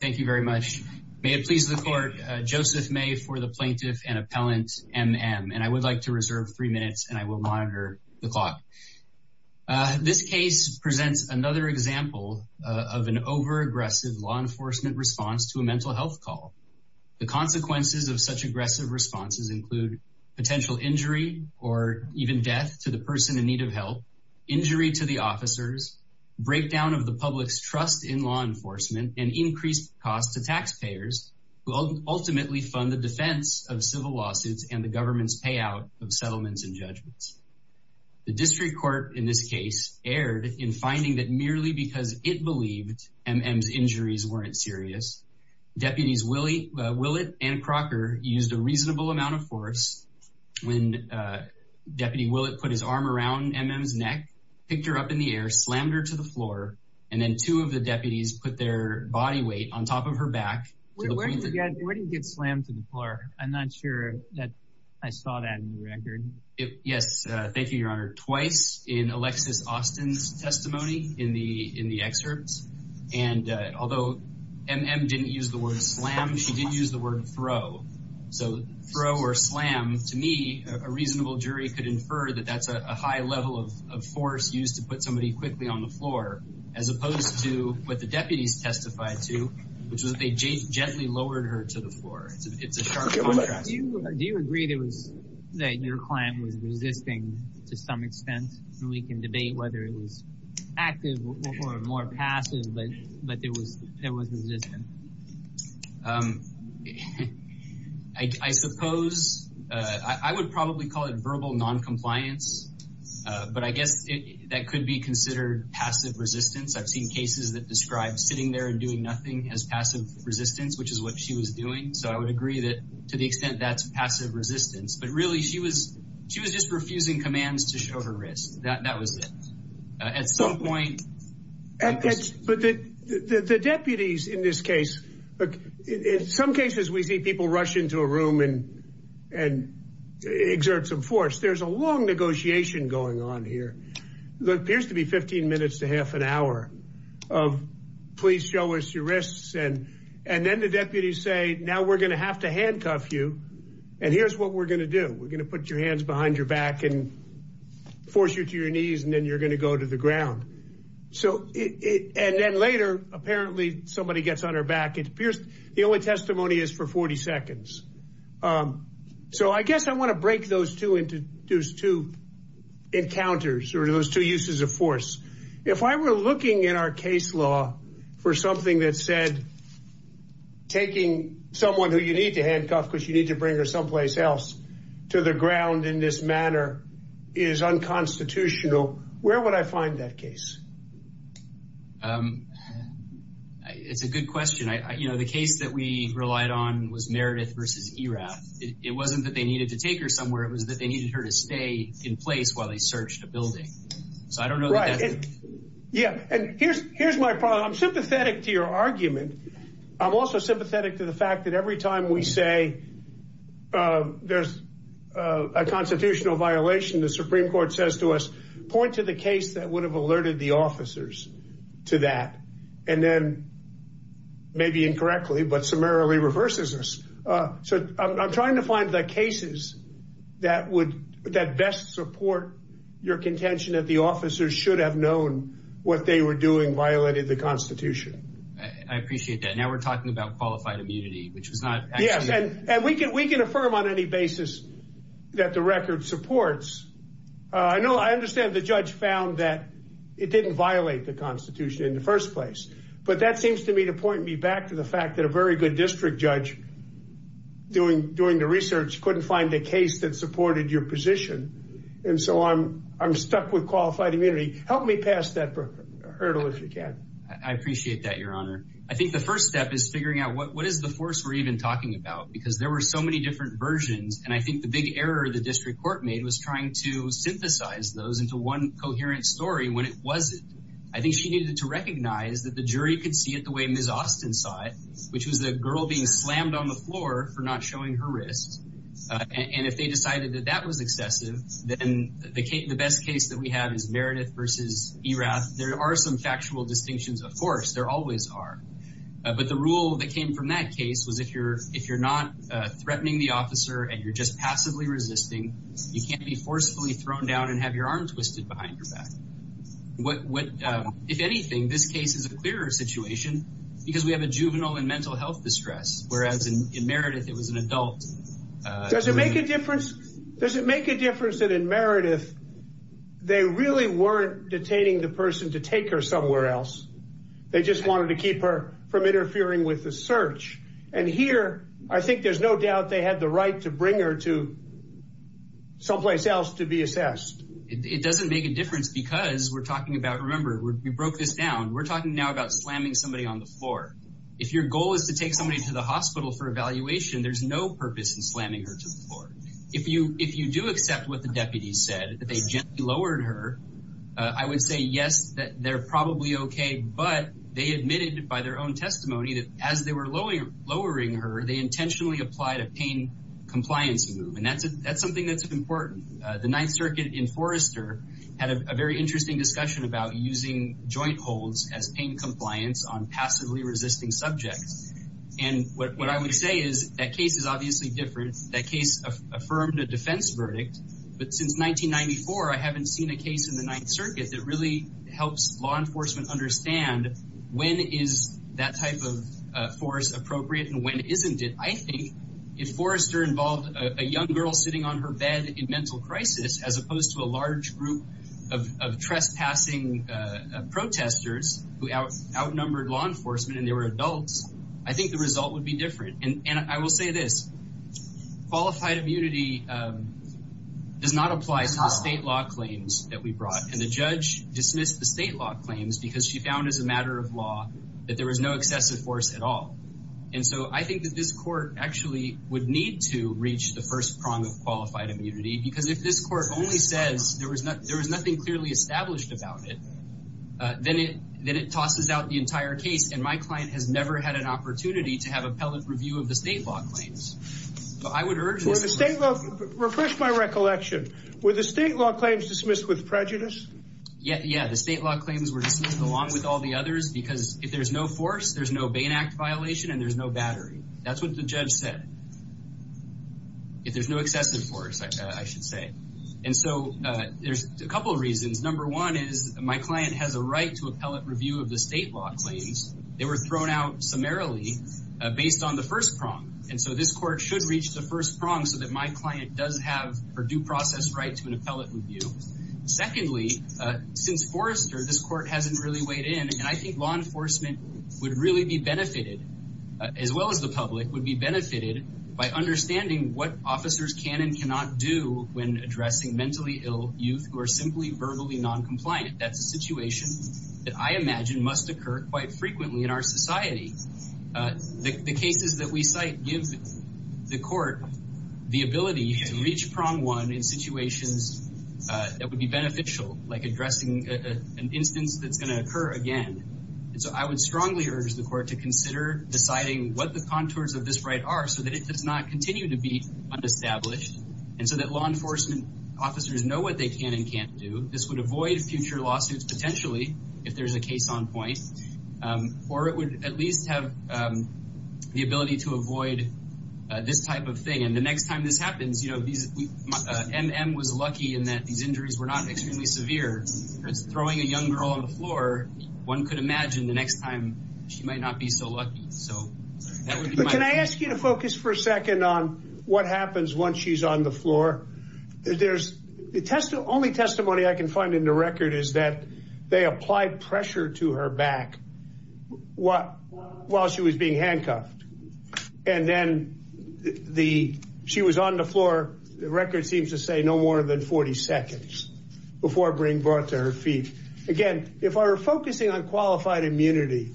Thank you very much. May it please the Court, Joseph May for the Plaintiff and Appellant M. M. and I would like to reserve three minutes and I will monitor the clock. This case presents another example of an over-aggressive law enforcement response to a mental health call. The consequences of such aggressive responses include potential injury or even death to the person in need of help, injury to the officers, breakdown of the public's trust in law enforcement, and increased costs to taxpayers who ultimately fund the defense of civil lawsuits and the government's payout of settlements and judgments. The District Court in this case erred in finding that merely because it believed M. M.'s injuries weren't serious, Deputies Willett and Crocker used a reasonable amount of force when Deputy Willett put his arm around M. M.'s neck, picked her up in the air, slammed her to the floor, and then two of the deputies put their body weight on top of her back. Where did you get slammed to the floor? I'm not sure that I saw that in the record. Yes, thank you, Your Honor. Twice in Alexis Austin's testimony in the excerpts. And although M. M. didn't use the word slam, she did use the word throw. So throw or slam, to me, a reasonable jury could infer that that's a high level of force used to put somebody quickly on the floor, as opposed to what the deputies testified to, which was they gently lowered her to the floor. It's a sharp contrast. Do you agree that your client was resisting to some extent? And we can debate whether it was active or more passive, but it was resistant. I suppose, I would probably call it verbal noncompliance, but I guess that could be considered passive resistance. I've seen cases that describe sitting there and doing nothing as passive resistance, which is what she was doing. So I would agree that to the extent that's passive resistance. But really, she was just refusing commands to show her wrist. That was it. At some point. But the deputies in this case, in some cases, we see people rush into a room and long negotiation going on here. There appears to be 15 minutes to half an hour of, please show us your wrists. And then the deputies say, now we're going to have to handcuff you. And here's what we're going to do. We're going to put your hands behind your back and force you to your knees, and then you're going to go to the ground. And then later, apparently somebody gets on her back. It appears the only testimony is for 40 seconds. So I guess I want to break those two into those two encounters or those two uses of force. If I were looking in our case law for something that said, taking someone who you need to handcuff because you need to bring her someplace else to the ground in this manner is unconstitutional. Where would I find that case? It's a good question. You know, the case that we relied on was Meredith versus Erath. It wasn't that they needed to take her somewhere. It was that they needed her to stay in place while they searched a building. So I don't know. Yeah. And here's my problem. I'm sympathetic to your argument. I'm also sympathetic to the fact that every time we say there's a constitutional violation, the Supreme Court says to us, point to the case that would have alerted the audience officers to that. And then maybe incorrectly, but summarily reverses us. So I'm trying to find the cases that would that best support your contention that the officers should have known what they were doing violated the Constitution. I appreciate that. Now we're talking about qualified immunity, which was not. Yes. And we can we can affirm on any basis that the record supports. I know I understand the judge found that it didn't violate the Constitution in the first place, but that seems to me to point me back to the fact that a very good district judge doing the research couldn't find a case that supported your position. And so I'm stuck with qualified immunity. Help me pass that hurdle if you can. I appreciate that, Your Honor. I think the first step is figuring out what is the force we're even talking about, because there were so many different versions. And I think the big error the district court made was trying to synthesize those into one coherent story when it wasn't. I think she needed to recognize that the jury could see it the way Ms. Austin saw it, which was the girl being slammed on the floor for not showing her wrist. And if they decided that that was excessive, then the best case that we have is Meredith versus Erath. There are some factual distinctions, of course, there always are. But the rule that came from that case was if you're not threatening the officer and you're just passively resisting, you can't be forcefully thrown down and have your arm twisted behind your back. If anything, this case is a clearer situation because we have a juvenile and mental health distress, whereas in Meredith it was an adult. Does it make a difference? Does it make a difference that in Meredith they really weren't detaining the person to take her somewhere else? They just wanted to keep her from interfering with the search. And here, I think there's no doubt they had the right to bring her to someplace else to be assessed. It doesn't make a difference because we're talking about, remember, we broke this down. We're talking now about slamming somebody on the floor. If your goal is to take somebody to the hospital for evaluation, there's no purpose in slamming her to the floor. If you do accept what the deputies said, that they gently lowered her, I would say yes, that they're probably okay, but they admitted by their own testimony that as they were lowering her, they intentionally applied a pain compliance move. And that's something that's important. The Ninth Circuit in Forrester had a very interesting discussion about using joint holds as pain compliance on passively resisting subjects. And what I would say is that case is obviously different. That case affirmed a defense verdict, but since 1994, I haven't seen a case in the Ninth Circuit that really helps law enforcement understand when is that type of force appropriate and when isn't it. I think if Forrester involved a young girl sitting on her bed in mental crisis, as opposed to a large group of trespassing protesters who outnumbered law enforcement and they were adults, I think the result would be does not apply to the state law claims that we brought. And the judge dismissed the state law claims because she found as a matter of law that there was no excessive force at all. And so I think that this court actually would need to reach the first prong of qualified immunity, because if this court only says there was nothing clearly established about it, then it tosses out the entire case. And my client has never had an opportunity to have recollection. Were the state law claims dismissed with prejudice? Yeah. The state law claims were dismissed along with all the others, because if there's no force, there's no Bain Act violation and there's no battery. That's what the judge said. If there's no excessive force, I should say. And so there's a couple of reasons. Number one is my client has a right to appellate review of the state law claims. They were thrown out summarily based on the first prong. And so this court should reach the first prong so that my client does have her due process right to an appellate review. Secondly, since Forrester, this court hasn't really weighed in. And I think law enforcement would really be benefited, as well as the public, would be benefited by understanding what officers can and cannot do when addressing mentally ill youth who are simply verbally noncompliant. That's a situation that I imagine must occur quite frequently in our society. The cases that we cite give the court the ability to reach prong one in situations that would be beneficial, like addressing an instance that's going to occur again. And so I would strongly urge the court to consider deciding what the contours of this right are so that it does not continue to be unestablished and so that law enforcement officers know what they can and can't do. This would avoid future lawsuits, potentially, if there's a case on point, or it would at least have the ability to avoid this type of thing. And the next time this happens, you know, M.M. was lucky in that these injuries were not extremely severe. If it's throwing a young girl on the floor, one could imagine the next time she might not be so lucky. So that would be my... But can I ask you to focus for a second on what happens once she's on the floor? The only testimony I can find in the record is that they applied pressure to her back while she was being handcuffed. And then she was on the floor, the record seems to say, no more than 40 seconds before being brought to her feet. Again, if we're focusing on qualified immunity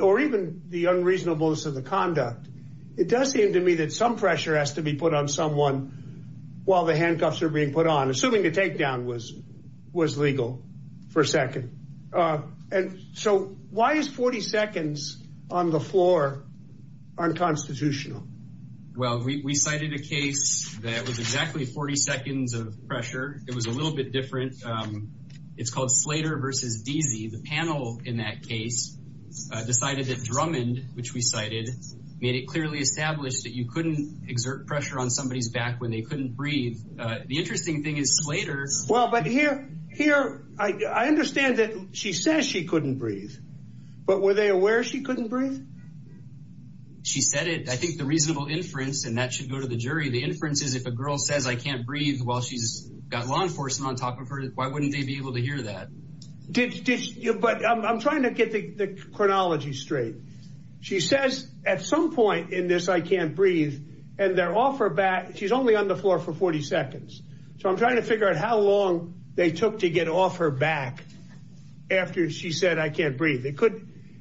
or even the unreasonableness of the conduct, it does seem to me that some pressure has to be put on someone while the handcuffs are being put on, assuming the takedown was legal for a second. And so why is 40 seconds on the floor unconstitutional? Well, we cited a case that was exactly 40 seconds of pressure. It was a little bit different. It's called Slater versus Deasy. The panel in that case decided that Drummond, which we cited, made it clearly established that you couldn't exert pressure on somebody's back when they were handcuffed. I understand that she says she couldn't breathe, but were they aware she couldn't breathe? She said it. I think the reasonable inference, and that should go to the jury, the inference is if a girl says, I can't breathe while she's got law enforcement on top of her, why wouldn't they be able to hear that? But I'm trying to get the chronology straight. She says at some point in this, I can't breathe. And they're off her back. She's only on the floor for 40 seconds. So I'm trying to figure out how long they took to get off her back after she said, I can't breathe.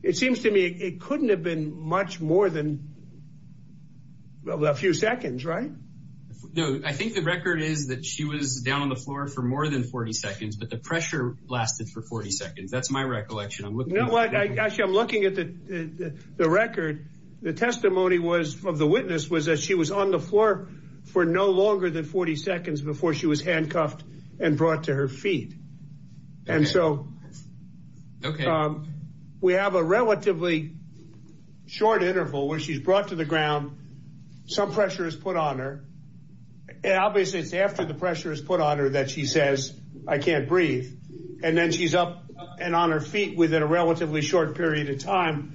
It seems to me it couldn't have been much more than a few seconds, right? No, I think the record is that she was down on the floor for more than 40 seconds, but the pressure lasted for 40 seconds. That's my recollection. Actually, I'm looking at the record. The witness was that she was on the floor for no longer than 40 seconds before she was handcuffed and brought to her feet. And so we have a relatively short interval where she's brought to the ground. Some pressure is put on her. And obviously, it's after the pressure is put on her that she says, I can't breathe. And then she's up and on her feet within a relatively short period of time.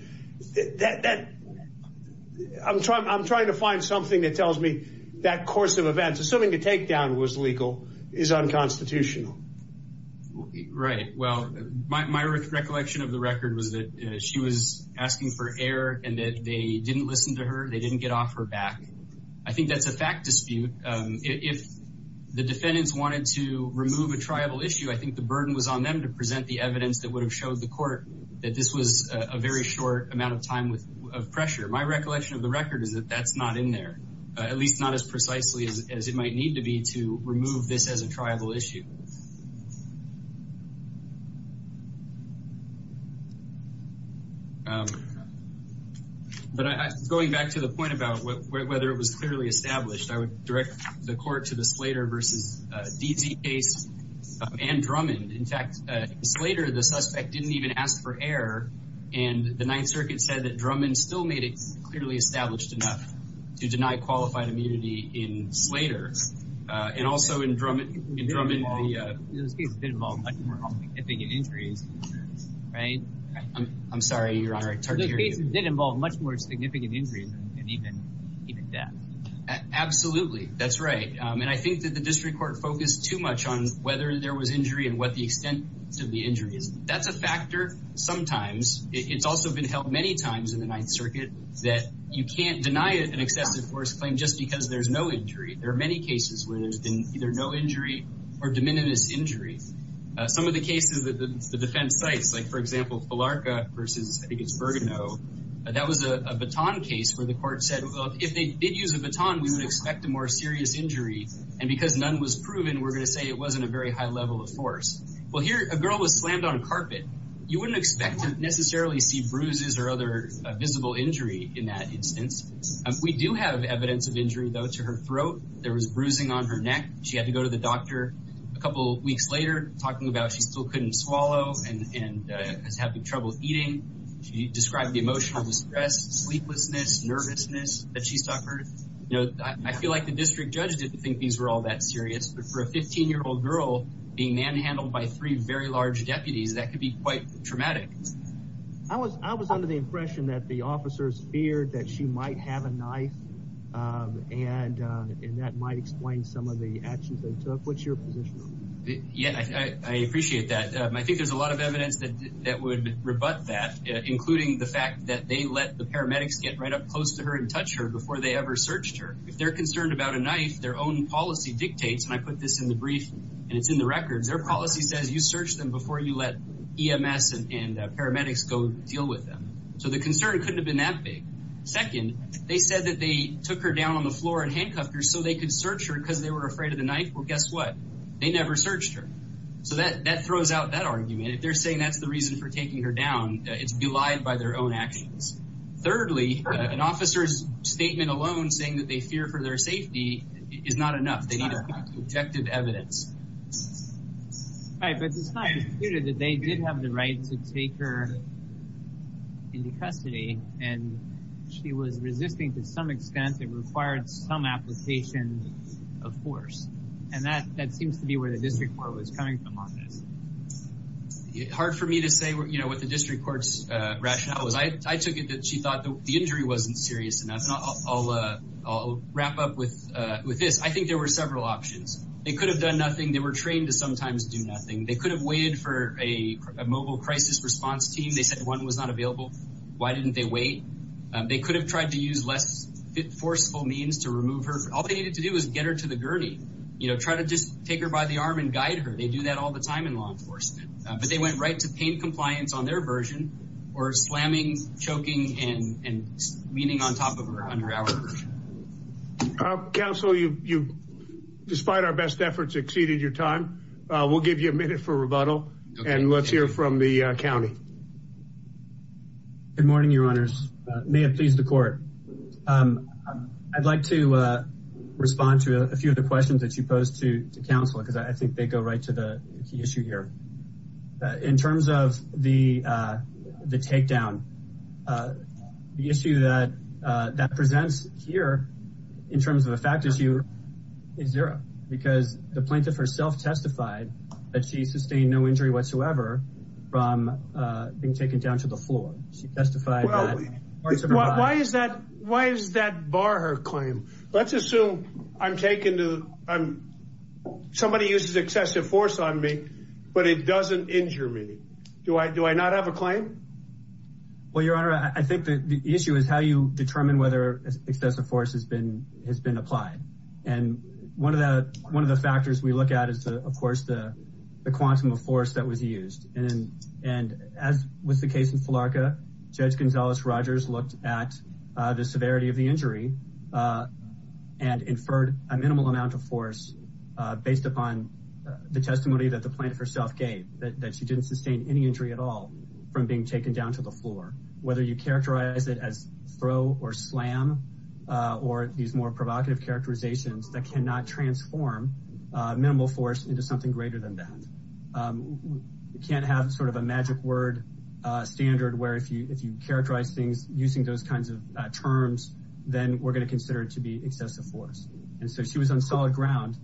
I'm trying to find something that tells me that course of events, assuming the takedown was legal, is unconstitutional. Right. Well, my recollection of the record was that she was asking for air and that they didn't listen to her. They didn't get off her back. I think that's a fact dispute. If the defendants wanted to remove a tribal issue, I think the very short amount of time of pressure. My recollection of the record is that that's not in there, at least not as precisely as it might need to be to remove this as a tribal issue. But going back to the point about whether it was clearly established, I would direct the court to the Slater versus DZ case and Drummond. In fact, Slater, the suspect didn't even ask for air. And the Ninth Circuit said that Drummond still made it clearly established enough to deny qualified immunity in Slater. And also in Drummond, it involved more significant injuries. Right. I'm sorry, Your Honor. Those cases did involve much more significant injuries and even death. Absolutely. That's right. And I think that the district court focused too much on whether there was injury and what the extent of the injury is. That's a factor sometimes. It's also been held many times in the Ninth Circuit that you can't deny an excessive force claim just because there's no injury. There are many cases where there's been either no injury or de minimis injury. Some of the cases that the defense cites, like, for example, Palarca versus, I think it's Bergano, that was a baton case where the court said, well, if they did use a baton, we would expect a more serious injury. And because none was proven, we're going to say it wasn't a very high level of force. Well, here, a girl was slammed on a carpet. You wouldn't expect to necessarily see bruises or other visible injury in that instance. We do have evidence of injury, though, to her throat. There was bruising on her neck. She had to go to the doctor a couple weeks later, talking about she still couldn't swallow and was having trouble eating. She described the emotional distress, sleeplessness, nervousness that she suffered. You know, I feel like the district judge didn't think these were all that serious, but for a 15-year-old girl being manhandled by three very large deputies, that could be quite traumatic. I was under the impression that the officers feared that she might have a knife, and that might explain some of the actions they took. What's your position on that? Yeah, I appreciate that. I think there's a lot of evidence that would rebut that, including the fact that they let the paramedics get right up close to her and touch her before they ever searched her. If they're concerned about a knife, their own policy dictates, and I put this in the brief and it's in the records, their policy says you search them before you let EMS and paramedics go deal with them. So the concern couldn't have been that big. Second, they said that they took her down on the floor in handcuffs so they could search her because they were afraid of the knife. Well, guess what? They never searched her. So that throws out that argument. If they're saying that's the reason for taking her down, it's belied by their own actions. Thirdly, an officer's statement alone saying that they fear for their safety is not enough. They need objective evidence. Right, but it's not disputed that they did have the right to take her into custody, and she was resisting to some extent. It required some application of force, and that seems to be where the district court was coming from on this. Hard for me to say what the district court's rationale was. I took it that she thought the injury wasn't serious enough, and I'll wrap up with this. I think there were several options. They could have done nothing. They were trained to sometimes do nothing. They could have waited for a mobile crisis response team. They said one was not available. Why didn't they wait? They could have tried to use less forceful means to remove her. All they needed to do was get her to the gurney, try to just take her by the arm and guide her. They do that all the time in law enforcement, but they went right to pain compliance on their version, or slamming, choking, and leaning on top of her under our version. Counsel, you, despite our best efforts, exceeded your time. We'll give you a minute for rebuttal, and let's hear from the county. Good morning, your honors. May it please the court. I'd like to respond to a few of the questions that you posed to counsel, because I think they go right to the key issue here. In terms of the takedown, the issue that presents here, in terms of a fact issue, is zero, because the plaintiff herself testified that she sustained no injury whatsoever from being taken down to the floor. She testified that parts of her body- Why does that bar her claim? Let's assume I'm taken to, somebody uses excessive force on me, but it doesn't injure me. Do I not have a claim? Well, your honor, I think the issue is how you determine whether excessive force has been applied. One of the factors we look at is, of course, the quantum of force that was used. As was the case in Flarka, Judge Gonzales-Rogers looked at the severity of the injury and inferred a minimal amount of force based upon the testimony that the plaintiff herself gave, that she didn't sustain any injury at all from being taken down to the floor. Whether you characterize it as throw or slam, or these more provocative characterizations that cannot transform minimal force into something greater than that. You can't have sort of a magic word standard where if you characterize things using those kinds of terms, then we're going to consider it to be excessive force. And so she was on solid ground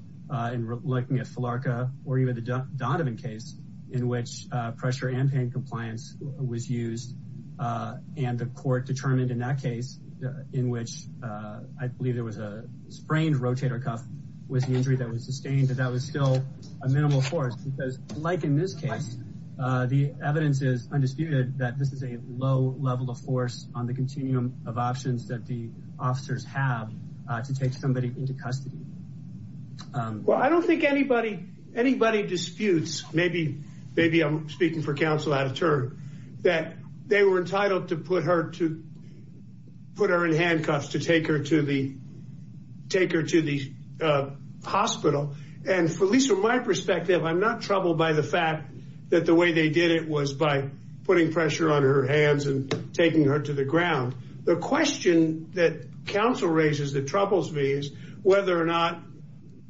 in looking at Flarka or even the case in which pressure and pain compliance was used. And the court determined in that case, in which I believe there was a sprained rotator cuff with the injury that was sustained, that that was still a minimal force. Because like in this case, the evidence is undisputed that this is a low level of force on the continuum of options that the officers have to take somebody into custody. Well, I don't think anybody disputes, maybe I'm speaking for counsel out of turn, that they were entitled to put her in handcuffs to take her to the hospital. And at least from my perspective, I'm not troubled by the fact that the way they did it was by putting pressure on her hands and taking her to the ground. The question that counsel raises that troubles me is whether or not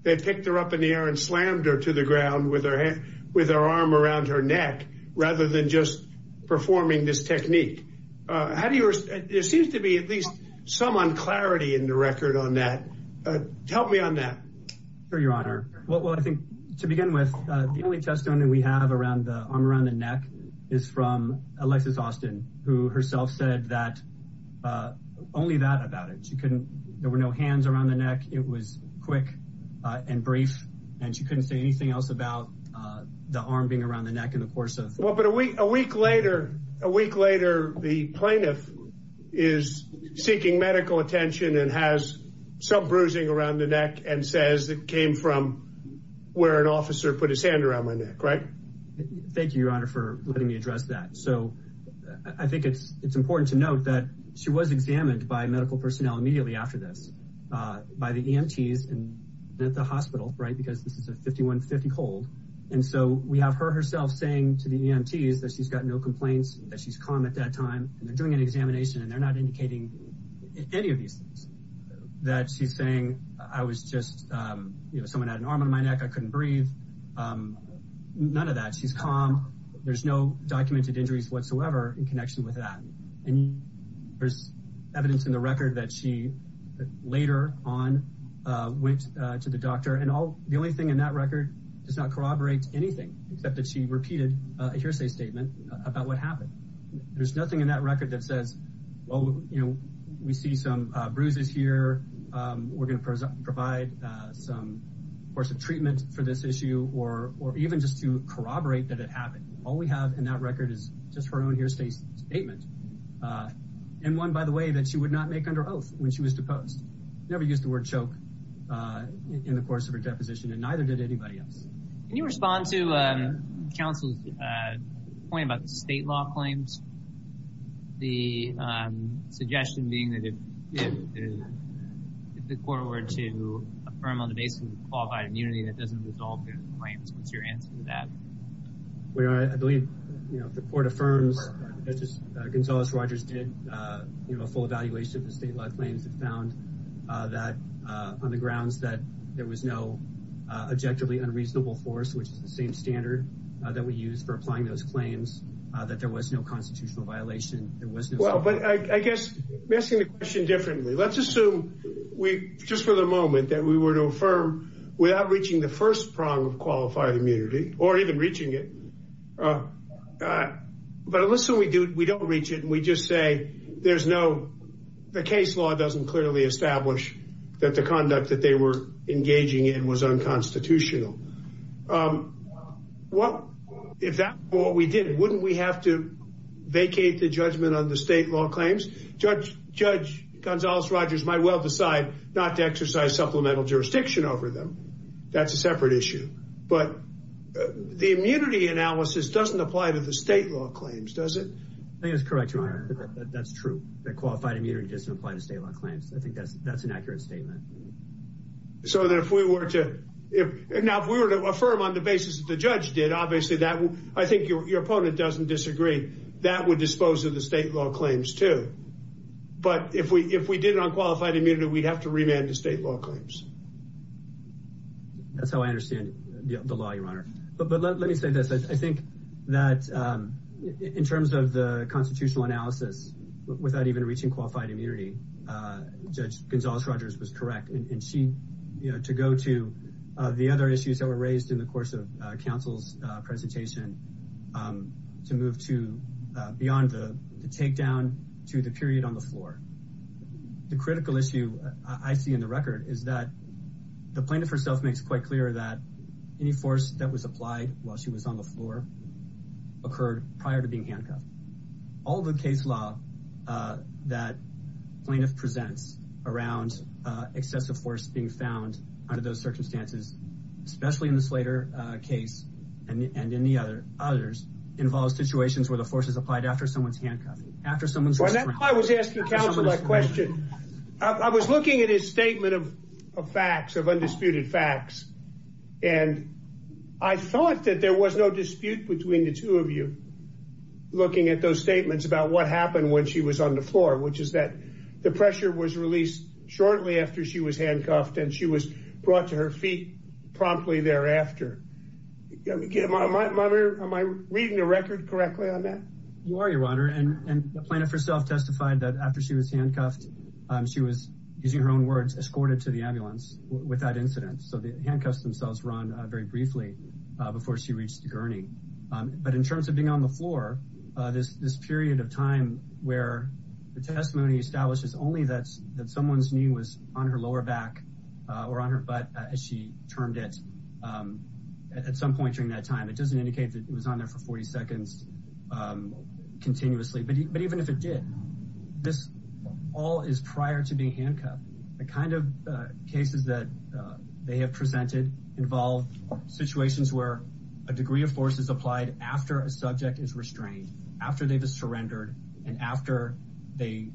they picked her up in the air and slammed her to the ground with her arm around her neck rather than just performing this technique. There seems to be at least some unclarity in the record on that. Tell me on that. Sure, Your Honor. Well, I think to begin with, the only testimony we have around the arm around the neck is from Alexis Austin, who herself said that only that about it. She couldn't, there were no hands around the neck. It was quick and brief and she couldn't say anything else about the arm being around the neck in the course of. Well, but a week later, a week later, the plaintiff is seeking medical attention and has some bruising around the neck and says it came from where an officer put his hand around my neck, right? Thank you, Your Honor, for letting me address that. So I think it's important to note that she was examined by medical personnel immediately after this by the EMTs and at the hospital, right? Because this is a 5150 hold. And so we have her herself saying to the EMTs that she's got no complaints, that she's calm at that time and they're doing an examination and they're not indicating any of these things. That she's saying I was just, you know, someone had an arm on my neck. I couldn't breathe. None of that. She's calm. There's no documented injuries whatsoever in connection with that. And there's evidence in the record that she later on went to the doctor and all the only thing in that record does not corroborate anything except that she repeated a hearsay statement about what happened. There's nothing in that record that says, well, you know, we see some bruises here. We're going to provide some course of treatment for this issue or even just to corroborate that it happened. All we have in that record is just her own hearsay statement. And one, by the way, that she would not make under oath when she was deposed. Never used the word choke in the course of her deposition and neither did anybody else. Can you respond to counsel's point about the state law claims? The suggestion being that if the court were to affirm on the basis of qualified immunity that doesn't resolve claims, what's your answer to that? Well, I believe, you know, if the court affirms, Gonzales-Rogers did, you know, a full evaluation of the state law claims and found that on the grounds that there was no objectively unreasonable force, which is the same standard that we use for applying those claims, that there was no constitutional violation. Well, but I guess missing the question differently. Let's assume we just for the moment that we were to affirm without reaching the first prong of qualified immunity or even reaching it. But unless we do, we don't reach it and we just say, there's no, the case law doesn't clearly establish that the conduct that they were engaging in was unconstitutional. Well, if that's what we did, wouldn't we have to vacate the judgment on the state law claims? Judge Gonzales-Rogers might well decide not to exercise supplemental jurisdiction over them. That's a separate issue. But the immunity analysis doesn't apply to the state law claims, does it? I think that's correct, your honor. That's true. That qualified immunity doesn't apply to state law claims. I think that's an accurate statement. So that if we were to, now if we were to affirm on the basis that the judge did, obviously that would, I think your opponent doesn't disagree, that would dispose of the state law claims too. But if we did it on qualified immunity, we'd have to remand to state law claims. That's how I understand the law, your honor. But let me say this. I think that in terms of the constitutional analysis, without even reaching qualified immunity, Judge Gonzales-Rogers was correct. And she, you know, to go to the other issues that were raised in the course of counsel's presentation, to move to beyond the takedown to the period on the floor. The critical issue I see in the record is that the plaintiff herself makes quite clear that any force that was applied while she was on the floor occurred prior to being handcuffed. All the case law that plaintiff presents around excessive force being found under those circumstances, especially in the Slater case and in the others, involves situations where the force is applied after someone's handcuffing. I was asking counsel that question. I was looking at his statement of facts, of undisputed facts. And I thought that there was no dispute between the two of you looking at those statements about what happened when she was on the floor, which is that the pressure was released shortly after she was handcuffed and she was brought to her feet promptly thereafter. Am I reading the record correctly on that? You are, Your Honor. And the plaintiff herself testified that after she was handcuffed, she was, using her own words, escorted to the ambulance with that incident. So the handcuffs themselves run very briefly before she reached the gurney. But in terms of being on the floor, this period of time where the testimony establishes only that someone's knee was on her lower back or on her butt, as she termed it, at some point during that time, it doesn't indicate that it was on there for 40 seconds continuously. But even if it did, this all is prior to being handcuffed. The kind of cases that they have presented involve situations where a degree of force is applied after a subject is restrained, after they've surrendered, and after they,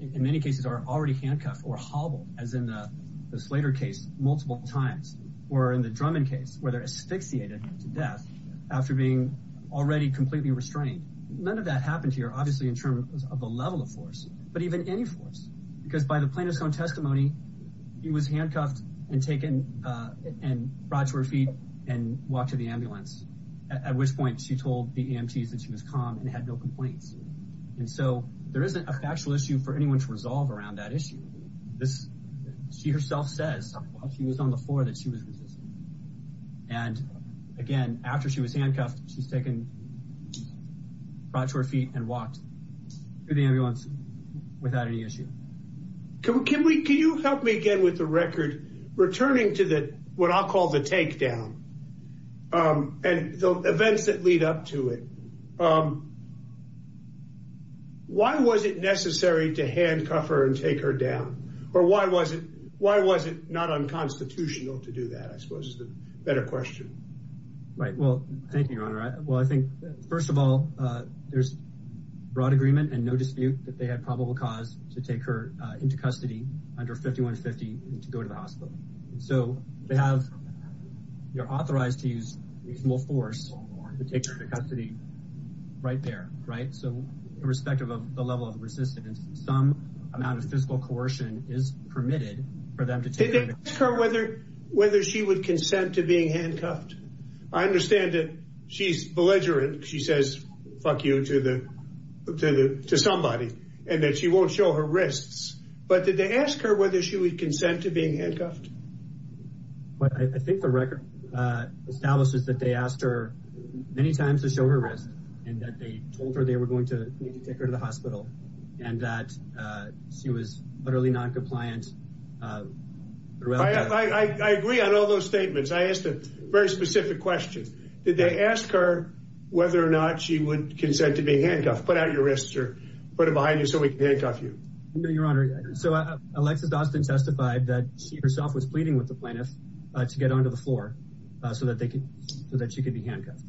in many cases, are already handcuffed or hobbled, as in the Slater case multiple times, or in the Drummond case, where they're asphyxiated to death after being already completely restrained. None of that happened here, obviously, in terms of the level of force, but even any force. Because by the plaintiff's own testimony, he was handcuffed and taken and brought to her feet and walked to the ambulance, at which point she told the EMTs that she was calm and had no complaints. And so there isn't a factual issue for anyone to resolve around that issue. This, she herself says, while she was on the floor, that she was resisting. And again, after she was handcuffed, she's taken, brought to her feet, and walked to the ambulance without any issue. Can we, can you help me again with the record, returning to the, what I'll call the takedown, and the events that lead up to it. Why was it necessary to handcuff her and take her down? Or why was it, why was it not unconstitutional to do that, I suppose, is the better question. Right, well, thank you, Your Honor. Well, I think, first of all, there's broad agreement and no that they had probable cause to take her into custody under 5150 and to go to the hospital. So they have, you're authorized to use reasonable force to take her to custody right there, right? So irrespective of the level of resistance, some amount of physical coercion is permitted for them to take her. Did they ask her whether she would consent to being handcuffed? I understand that she's belligerent. She says, fuck you to the, to somebody, and that she won't show her wrists. But did they ask her whether she would consent to being handcuffed? But I think the record establishes that they asked her many times to show her wrists, and that they told her they were going to take her to the hospital, and that she was utterly non-compliant throughout that. I agree on all those statements. I asked a very specific question. Did they ask her whether or not she would consent to being handcuffed? Put out your wrists or put them behind you so we can handcuff you. No, Your Honor. So Alexis Dawson testified that she herself was pleading with the plaintiff to get onto the floor so that they could, so that she could be handcuffed.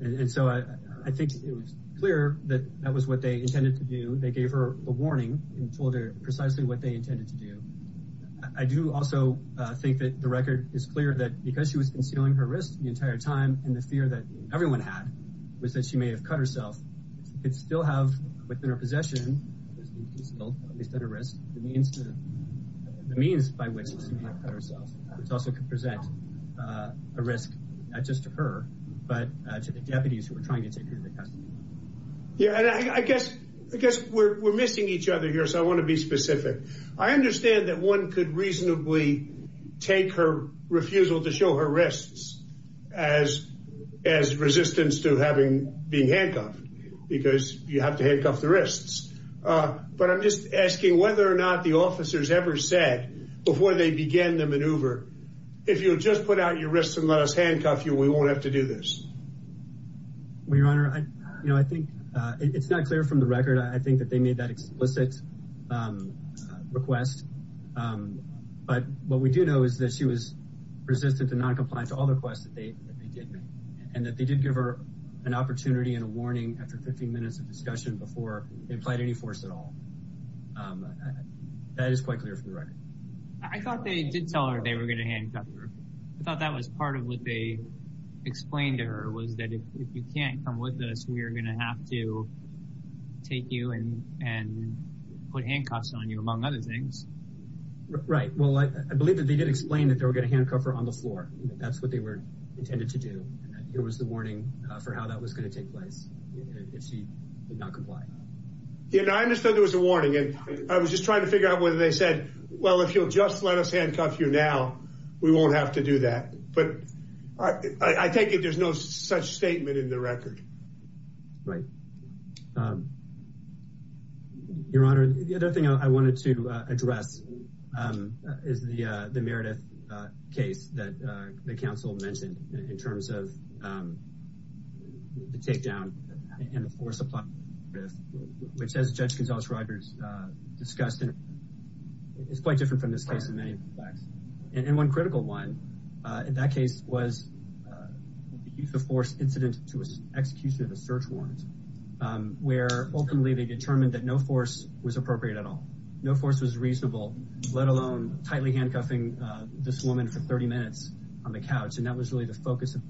And so I think it was clear that that was what they intended to do. They gave her a warning and told her precisely what they intended to do. I do also think that the record is clear that because she was concealing her wrists the entire time, and the fear that everyone had was that she may have cut herself, she could still have within her possession, at least at a risk, the means to, the means by which she may have cut herself, which also could present a risk, not just to her, but to the deputies who were trying to take her to the custody. Yeah, and I guess, I guess we're missing each other here, so I want to be specific. I understand that one could reasonably take her refusal to show her wrists as, as resistance to having, being handcuffed because you have to handcuff the wrists. But I'm just asking whether or not the officers ever said before they began the maneuver, if you'll just put out your wrists and let us handcuff you, we won't have to do this. Well, Your Honor, I, you know, I think it's not clear from the record. I think that they made that explicit request. But what we do know is that she was resistant to non-compliance to all the requests that they did make, and that they did give her an opportunity and a warning after 15 minutes of discussion before they applied any force at all. That is quite clear from the record. I thought they did tell her they were going to handcuff her. I thought that was part of what they explained to her, was that if you can't come with us, we are going to have to take you and, and put handcuffs on you, among other things. Right. Well, I believe that they did explain that they were going to handcuff her on the floor. That's what they were intended to do. Here was the warning for how that was going to take place, if she did not comply. Yeah, I understood there was a warning. And I was just trying to figure out whether they said, well, if you'll just let us handcuff you now, we won't have to do that. But I take it there's no such statement in the record. Right. Your Honor, the other thing I wanted to address is the Meredith case that the council mentioned in terms of the takedown and the force applied, which as Judge Gonzales-Rogers discussed, is quite different from this case in many respects. And one critical one in that case was the use of force incident to execution of the search warrant, where openly they determined that no force was appropriate at all. No force was reasonable, let alone tightly handcuffing this woman for 30 minutes on the couch. And that was really the focus of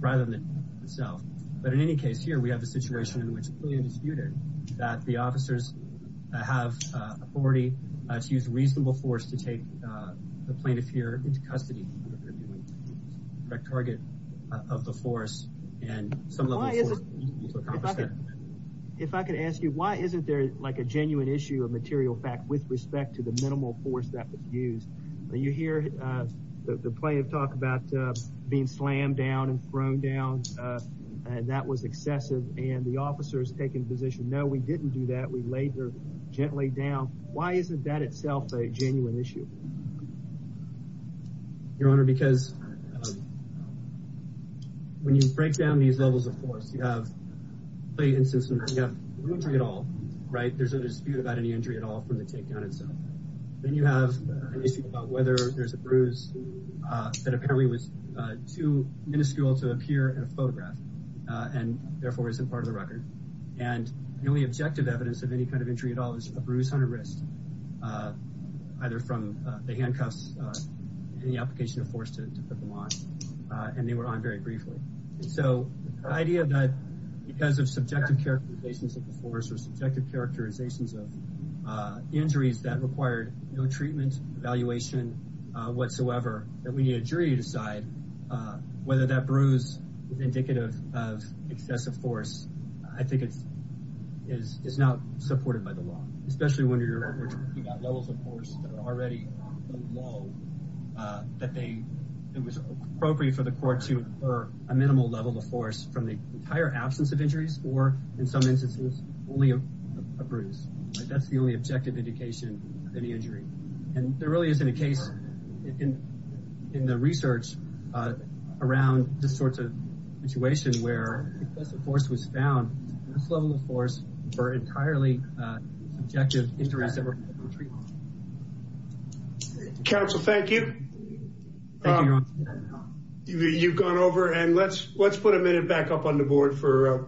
rather than itself. But in any case here, we have a situation in which clearly disputed that the officers have authority to use reasonable force to take the plaintiff here into custody. The target of the force and some level of force to accomplish that. If I could ask you, why isn't there like a genuine issue of material fact with respect to the minimal force that was used? You hear the plaintiff talk about being slammed down and thrown down. And that was excessive. And the officers taking position, no, we didn't do that. We laid gently down. Why isn't that itself a genuine issue? Your Honor, because when you break down these levels of force, you have the instance of injury at all, right? There's a dispute about any injury at all from the takedown itself. Then you have an issue about whether there's a bruise that apparently was too minuscule to appear in a photograph and therefore isn't part of the record. And the only objective evidence of any kind of injury at all is a bruise on a wrist, either from the handcuffs and the application of force to put them on. And they were on very briefly. So the idea that because of subjective characterizations of the force or subjective characterizations of injuries that required no treatment, evaluation whatsoever, that we need a jury to decide whether that bruise is indicative of excessive force. I think it's not supported by the law, especially when you're talking about levels of force that are already low, that it was appropriate for the court to infer a minimal level of force from the entire absence of injuries or in some instances only a bruise. That's the only objective indication of any injury. And there really isn't a research around this sort of situation where excessive force was found. This level of force for entirely subjective injuries that were treated. Counsel, thank you. You've gone over and let's put a minute back up on the board for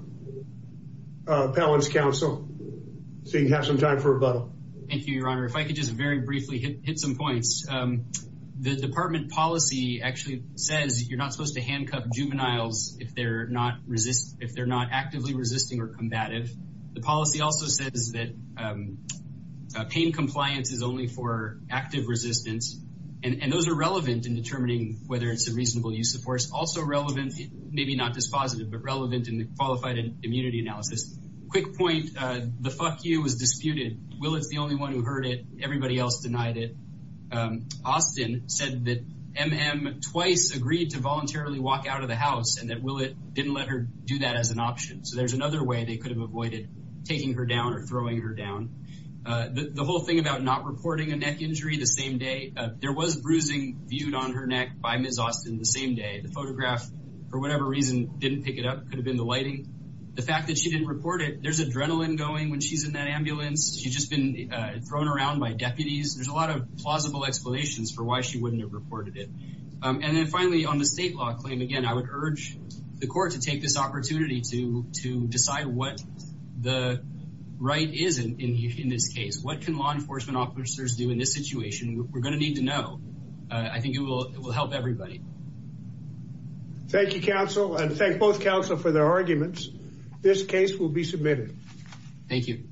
Appellant's counsel so you can have some time for rebuttal. Thank you, Your Honor. If I could just very briefly hit some points. The department policy actually says you're not supposed to handcuff juveniles if they're not actively resisting or combative. The policy also says that pain compliance is only for active resistance. And those are relevant in determining whether it's a reasonable use of force. Also relevant, maybe not dispositive, but relevant in the qualified immunity analysis. Quick point, the fuck you was disputed. Will is the only one who heard it. Everybody else denied it. Austin said that MM twice agreed to voluntarily walk out of the house and that Willett didn't let her do that as an option. So there's another way they could have avoided taking her down or throwing her down. The whole thing about not reporting a neck injury the same day. There was bruising viewed on her neck by Ms. Austin the same day. The photograph, for whatever reason, didn't pick it up. Could have been the lighting. The fact that she didn't report it. There's adrenaline going when she's in that ambulance. She's just been thrown around by deputies. There's a lot of plausible explanations for why she wouldn't have reported it. And then finally, on the state law claim, again, I would urge the court to take this opportunity to decide what the right is in this case. What can law enforcement officers do in this situation? We're going to need to know. I think it will help everybody. Thank you, counsel, and thank both counsel for their arguments. This case will be submitted. Thank you.